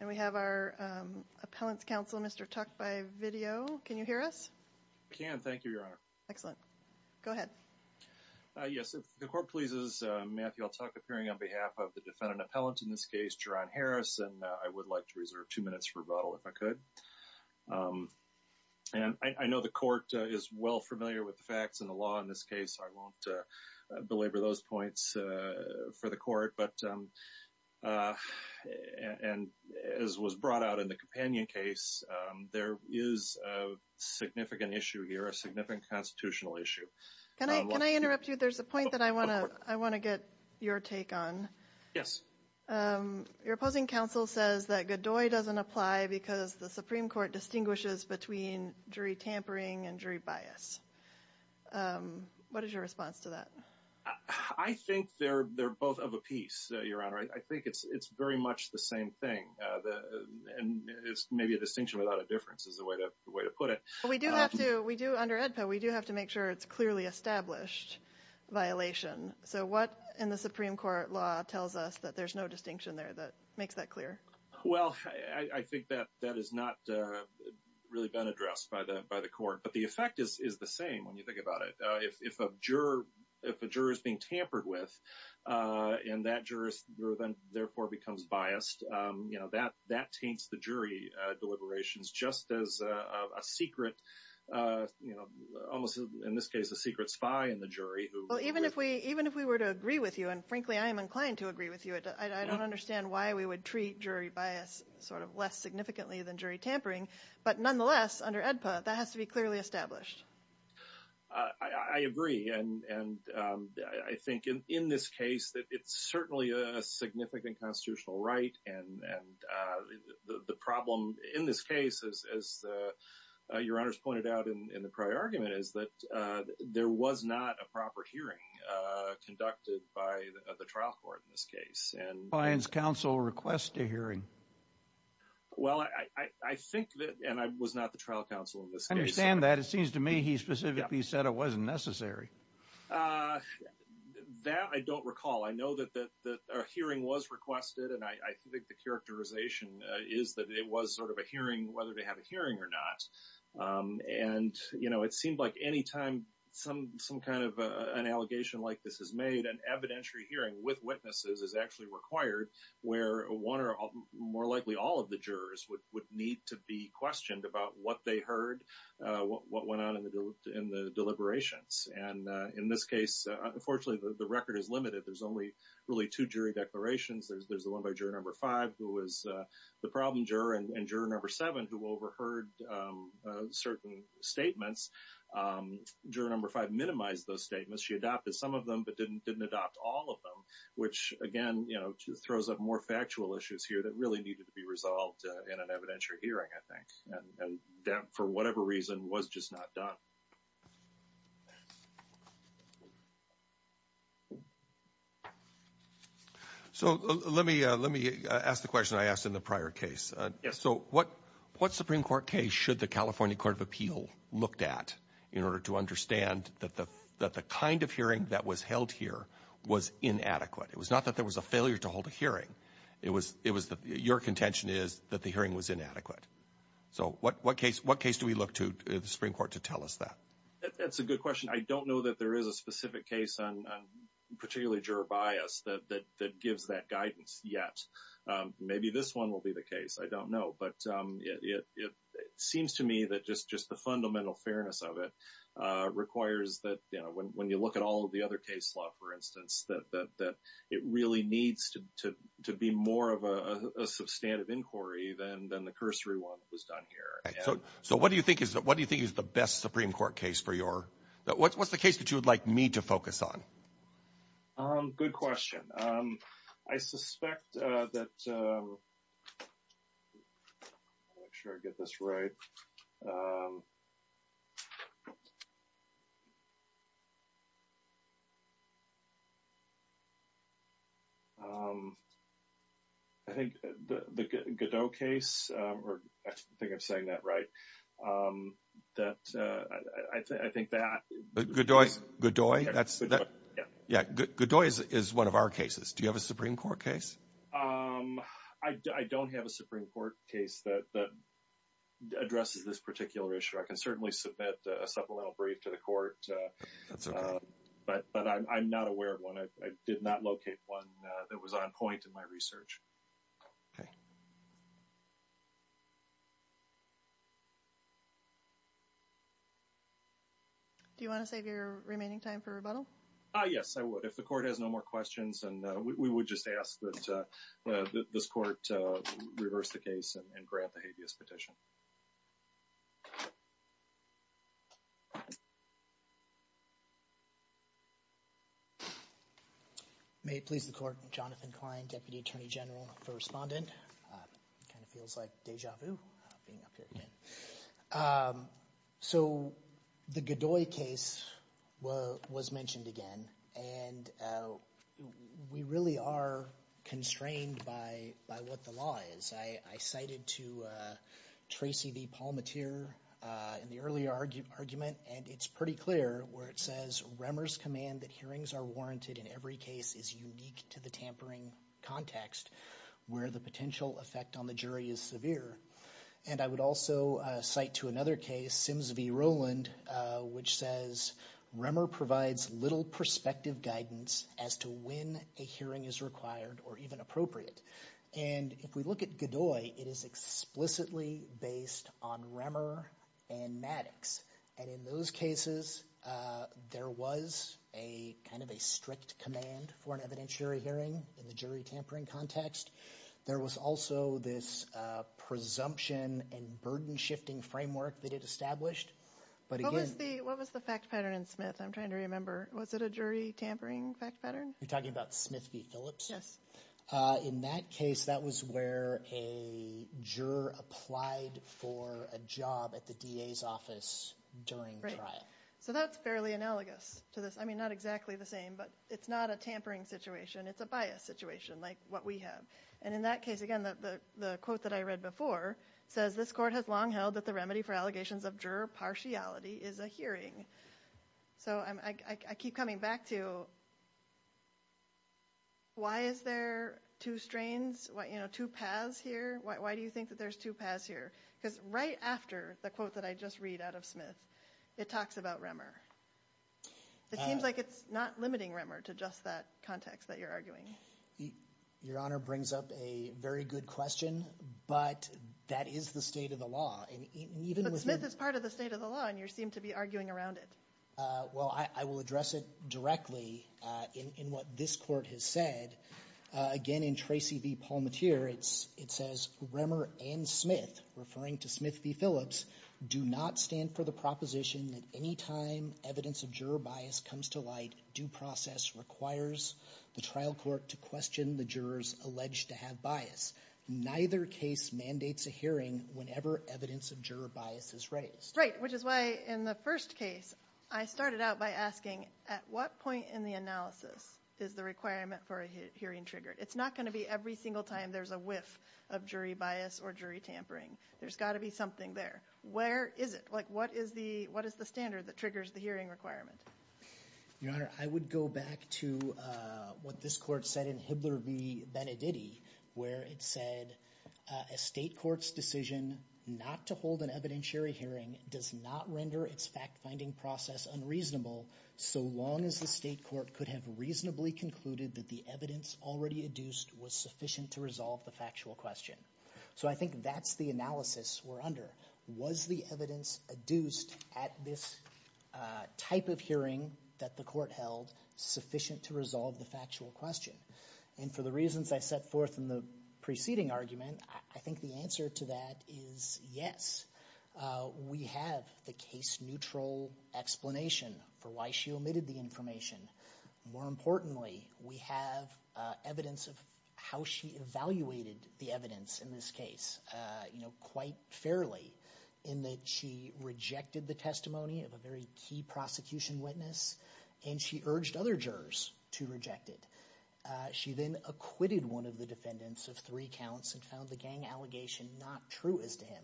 And we have our Appellant's Counsel, Mr. Tuck, by video. Can you hear us? I can, thank you, Your Honor. Excellent. Go ahead. Yes, if the Court pleases, Matthew, I'll talk appearing on behalf of the defendant appellant, in this case, Jerron Harris. And I would like to reserve two minutes for rebuttal, if I could. And I know the Court is well familiar with the facts and the law in this case. So I won't belabor those points for the Court. But as was brought out in the companion case, there is a significant issue here, a significant constitutional issue. Can I interrupt you? There's a point that I want to get your take on. Yes. Your opposing counsel says that Godoy doesn't apply because the Supreme Court distinguishes between jury tampering and jury bias. What is your response to that? I think they're both of a piece, Your Honor. I think it's very much the same thing. And it's maybe a distinction without a difference, is the way to put it. But we do have to, under AEDPA, we do have to make sure it's clearly established violation. So what in the Supreme Court law tells us that there's no distinction there that makes that clear? Well, I think that that has not really been addressed by the Court. But the effect is the same when you think about it. If a juror is being tampered with and that juror therefore becomes biased, that taints the jury deliberations just as a secret, almost in this case a secret spy in the jury. Well, even if we were to agree with you, and frankly I am inclined to agree with you, I don't understand why we would treat jury bias sort of less significantly than jury tampering. But nonetheless, under AEDPA, that has to be clearly established. I agree. And I think in this case that it's certainly a significant constitutional right. And the problem in this case, as Your Honor's pointed out in the prior argument, is that there was not a proper hearing conducted by the trial court in this case. Why does counsel request a hearing? Well, I think that—and I was not the trial counsel in this case. I understand that. It seems to me he specifically said it wasn't necessary. That I don't recall. I know that a hearing was requested, and I think the characterization is that it was sort of a hearing, whether they have a hearing or not. And, you know, it seemed like any time some kind of an allegation like this is made, an evidentiary hearing with witnesses is actually required, where one or more likely all of the jurors would need to be questioned about what they heard, what went on in the deliberations. And in this case, unfortunately, the record is limited. There's only really two jury declarations. There's the one by Juror No. 5, who was the problem juror, and Juror No. 7, who overheard certain statements. Juror No. 5 minimized those statements. She adopted some of them but didn't adopt all of them, which, again, you know, just throws up more factual issues here that really needed to be resolved in an evidentiary hearing, I think. And that, for whatever reason, was just not done. So let me ask the question I asked in the prior case. Yes. So what Supreme Court case should the California Court of Appeal looked at in order to understand that the kind of hearing that was held here was inadequate? It was not that there was a failure to hold a hearing. It was that your contention is that the hearing was inadequate. So what case do we look to the Supreme Court to tell us that? That's a good question. I don't know that there is a specific case on particularly juror bias that gives that guidance yet. Maybe this one will be the case. I don't know. But it seems to me that just the fundamental fairness of it requires that when you look at all of the other case law, for instance, that it really needs to be more of a substantive inquiry than the cursory one that was done here. So what do you think is the best Supreme Court case for your – what's the case that you would like me to focus on? Good question. I suspect that – make sure I get this right. I think the Godoy case – I think I'm saying that right. That – I think that – Godoy? Yeah. Godoy is one of our cases. Do you have a Supreme Court case? I don't have a Supreme Court case that addresses this particular issue. I can certainly submit a supplemental brief to the court. That's okay. But I'm not aware of one. I did not locate one that was on point in my research. Okay. Do you want to save your remaining time for rebuttal? Yes, I would, if the court has no more questions. And we would just ask that this court reverse the case and grant the habeas petition. May it please the court. Jonathan Klein, Deputy Attorney General for Respondent. Kind of feels like deja vu being up here again. So the Godoy case was mentioned again. And we really are constrained by what the law is. I cited to Tracy the palmeteer in the earlier argument, and it's pretty clear where it says, Remmer's command that hearings are warranted in every case is unique to the tampering context where the potential effect on the jury is severe. And I would also cite to another case, Sims v. Rowland, which says Remmer provides little perspective guidance as to when a hearing is required or even appropriate. And if we look at Godoy, it is explicitly based on Remmer and Maddox. And in those cases, there was a kind of a strict command for an evidentiary hearing in the jury tampering context. There was also this presumption and burden shifting framework that it established. What was the fact pattern in Smith? I'm trying to remember. Was it a jury tampering fact pattern? You're talking about Smith v. Phillips? Yes. In that case, that was where a juror applied for a job at the DA's office during trial. So that's fairly analogous to this. I mean, not exactly the same, but it's not a tampering situation. It's a bias situation like what we have. And in that case, again, the quote that I read before says, this court has long held that the remedy for allegations of juror partiality is a hearing. So I keep coming back to why is there two strains, two paths here? Why do you think that there's two paths here? Because right after the quote that I just read out of Smith, it talks about Remmer. It seems like it's not limiting Remmer to just that context that you're arguing. Your Honor brings up a very good question, but that is the state of the law. But Smith is part of the state of the law, and you seem to be arguing around it. Well, I will address it directly in what this court has said. Again, in Tracy v. Palmatier, it says, Remmer and Smith, referring to Smith v. Phillips, do not stand for the proposition that any time evidence of juror bias comes to light, due process requires the trial court to question the jurors alleged to have bias. Neither case mandates a hearing whenever evidence of juror bias is raised. Right, which is why in the first case, I started out by asking, at what point in the analysis is the requirement for a hearing triggered? It's not going to be every single time there's a whiff of jury bias or jury tampering. There's got to be something there. Where is it? What is the standard that triggers the hearing requirement? Your Honor, I would go back to what this court said in Hibler v. Beneditti, where it said a state court's decision not to hold an evidentiary hearing does not render its fact-finding process unreasonable, so long as the state court could have reasonably concluded that the evidence already adduced was sufficient to resolve the factual question. So I think that's the analysis we're under. Was the evidence adduced at this type of hearing that the court held sufficient to resolve the factual question? And for the reasons I set forth in the preceding argument, I think the answer to that is yes. We have the case-neutral explanation for why she omitted the information. More importantly, we have evidence of how she evaluated the evidence in this case quite fairly, in that she rejected the testimony of a very key prosecution witness, and she urged other jurors to reject it. She then acquitted one of the defendants of three counts and found the gang allegation not true as to him.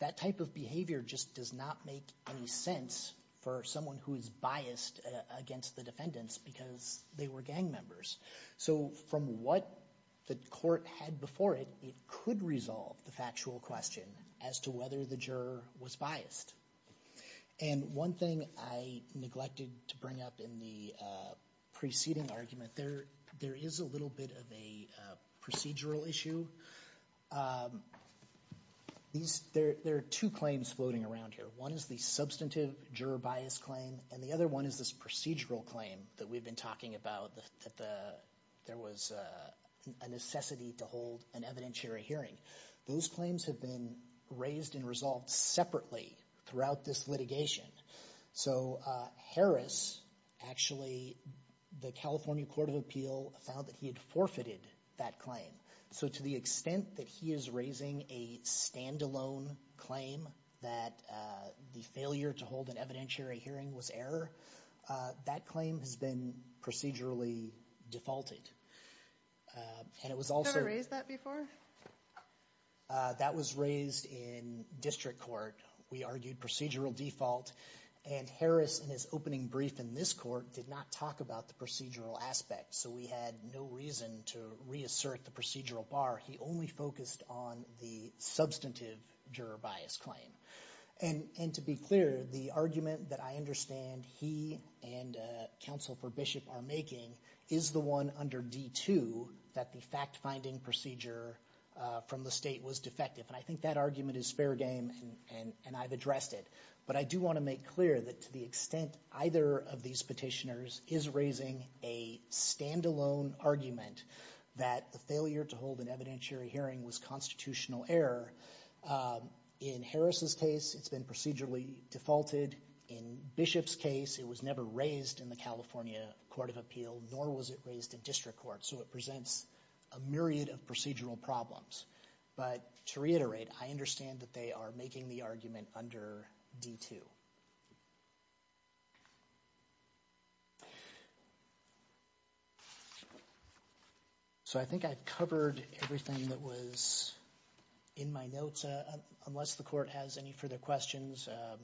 That type of behavior just does not make any sense for someone who is biased against the defendants because they were gang members. So from what the court had before it, it could resolve the factual question as to whether the juror was biased. And one thing I neglected to bring up in the preceding argument, there is a little bit of a procedural issue. There are two claims floating around here. One is the substantive juror bias claim, and the other one is this procedural claim that we've been talking about, that there was a necessity to hold an evidentiary hearing. Those claims have been raised and resolved separately throughout this litigation. So Harris actually, the California Court of Appeal, found that he had forfeited that claim. So to the extent that he is raising a standalone claim that the failure to hold an evidentiary hearing was error, that claim has been procedurally defaulted. Have you ever raised that before? That was raised in district court. We argued procedural default, and Harris in his opening brief in this court did not talk about the procedural aspect. So we had no reason to reassert the procedural bar. He only focused on the substantive juror bias claim. And to be clear, the argument that I understand he and Counsel for Bishop are making is the one under D-2, that the fact-finding procedure from the state was defective. And I think that argument is fair game, and I've addressed it. But I do want to make clear that to the extent either of these petitioners is raising a standalone argument that the failure to hold an evidentiary hearing was constitutional error, in Harris's case, it's been procedurally defaulted. In Bishop's case, it was never raised in the California Court of Appeal, nor was it raised in district court. So it presents a myriad of procedural problems. But to reiterate, I understand that they are making the argument under D-2. So I think I've covered everything that was in my notes. Unless the court has any further questions, a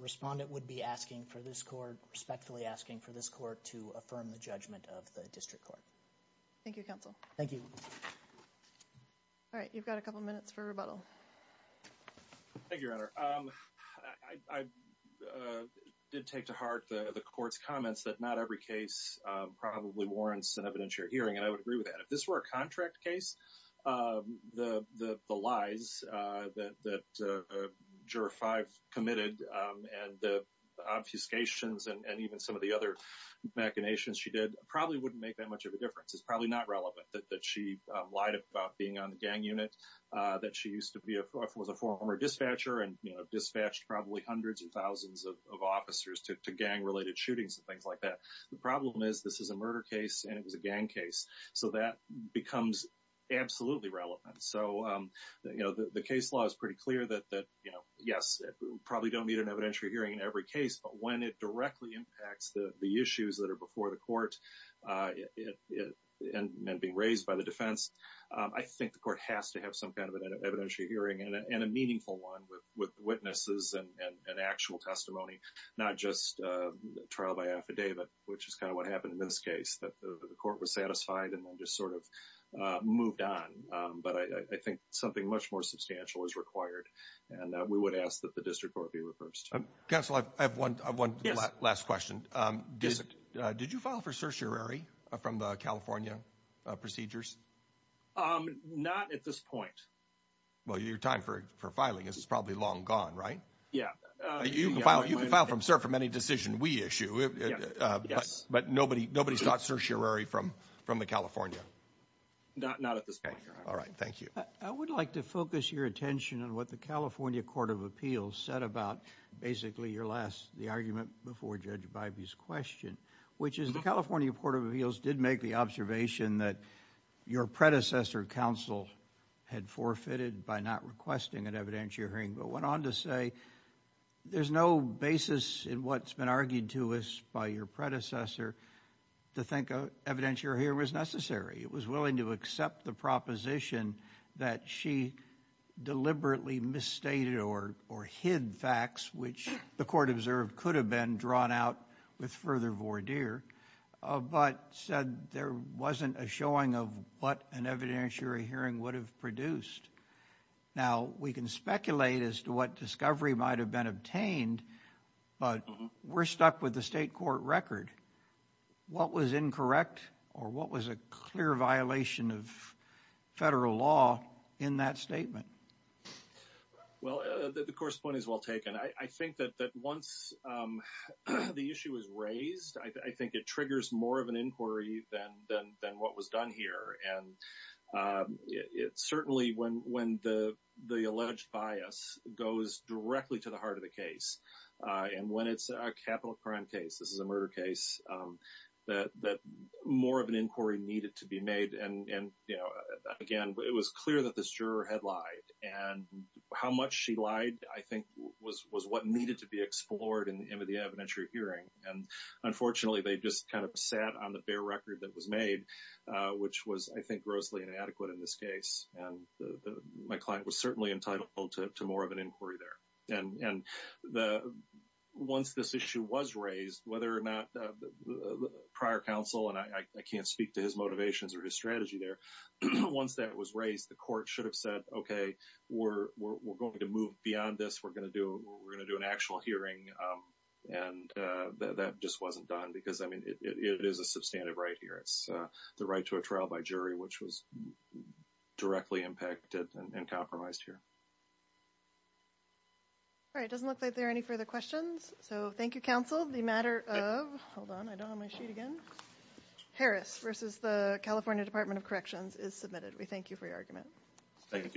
respondent would be asking for this court, respectfully asking for this court to affirm the judgment of the district court. Thank you, Counsel. Thank you. All right, you've got a couple minutes for rebuttal. Thank you, Your Honor. I did take to heart the court's comments that not every case probably warrants an evidentiary hearing, and I would agree with that. If this were a contract case, the lies that Juror 5 committed and the obfuscations and even some of the other machinations she did probably wouldn't make that much of a difference. It's probably not relevant that she lied about being on the gang unit, that she was a former dispatcher and dispatched probably hundreds of thousands of officers to gang-related shootings and things like that. The problem is this is a murder case and it was a gang case, so that becomes absolutely relevant. So the case law is pretty clear that, yes, we probably don't need an evidentiary hearing in every case, but when it directly impacts the issues that are before the court and being raised by the defense, I think the court has to have some kind of an evidentiary hearing and a meaningful one with witnesses and actual testimony, not just trial by affidavit, which is kind of what happened in this case, that the court was satisfied and then just sort of moved on. But I think something much more substantial is required, and we would ask that the district court be reversed. Counsel, I have one last question. Did you file for certiorari from the California procedures? Not at this point. Well, your time for filing is probably long gone, right? Yeah. You can file from cert from any decision we issue, but nobody's got certiorari from the California? Not at this point, Your Honor. All right. Thank you. I would like to focus your attention on what the California Court of Appeals said about basically your last, the argument before Judge Bybee's question, which is the California Court of Appeals did make the observation that your predecessor counsel had forfeited by not requesting an evidentiary hearing, but went on to say there's no basis in what's been argued to us by your predecessor to think an evidentiary hearing was necessary. It was willing to accept the proposition that she deliberately misstated or hid facts, which the court observed could have been drawn out with further voir dire, but said there wasn't a showing of what an evidentiary hearing would have produced. Now, we can speculate as to what discovery might have been obtained, but we're stuck with the state court record. What was incorrect or what was a clear violation of federal law in that statement? Well, the course point is well taken. I think that once the issue is raised, I think it triggers more of an inquiry than what was done here. And it's certainly when the alleged bias goes directly to the heart of the case. And when it's a capital crime case, this is a murder case that more of an inquiry needed to be made. And, you know, again, it was clear that this juror had lied. And how much she lied, I think, was what needed to be explored in the evidentiary hearing. And unfortunately, they just kind of sat on the bare record that was made, which was, I think, grossly inadequate in this case. And my client was certainly entitled to more of an inquiry there. And once this issue was raised, whether or not prior counsel, and I can't speak to his motivations or his strategy there, once that was raised, the court should have said, okay, we're going to move beyond this. We're going to do an actual hearing. And that just wasn't done because, I mean, it is a substantive right here. It's the right to a trial by jury, which was directly impacted and compromised here. All right, it doesn't look like there are any further questions. So thank you, counsel. The matter of, hold on, I don't have my sheet again. Harris versus the California Department of Corrections is submitted. We thank you for your argument. Thank you.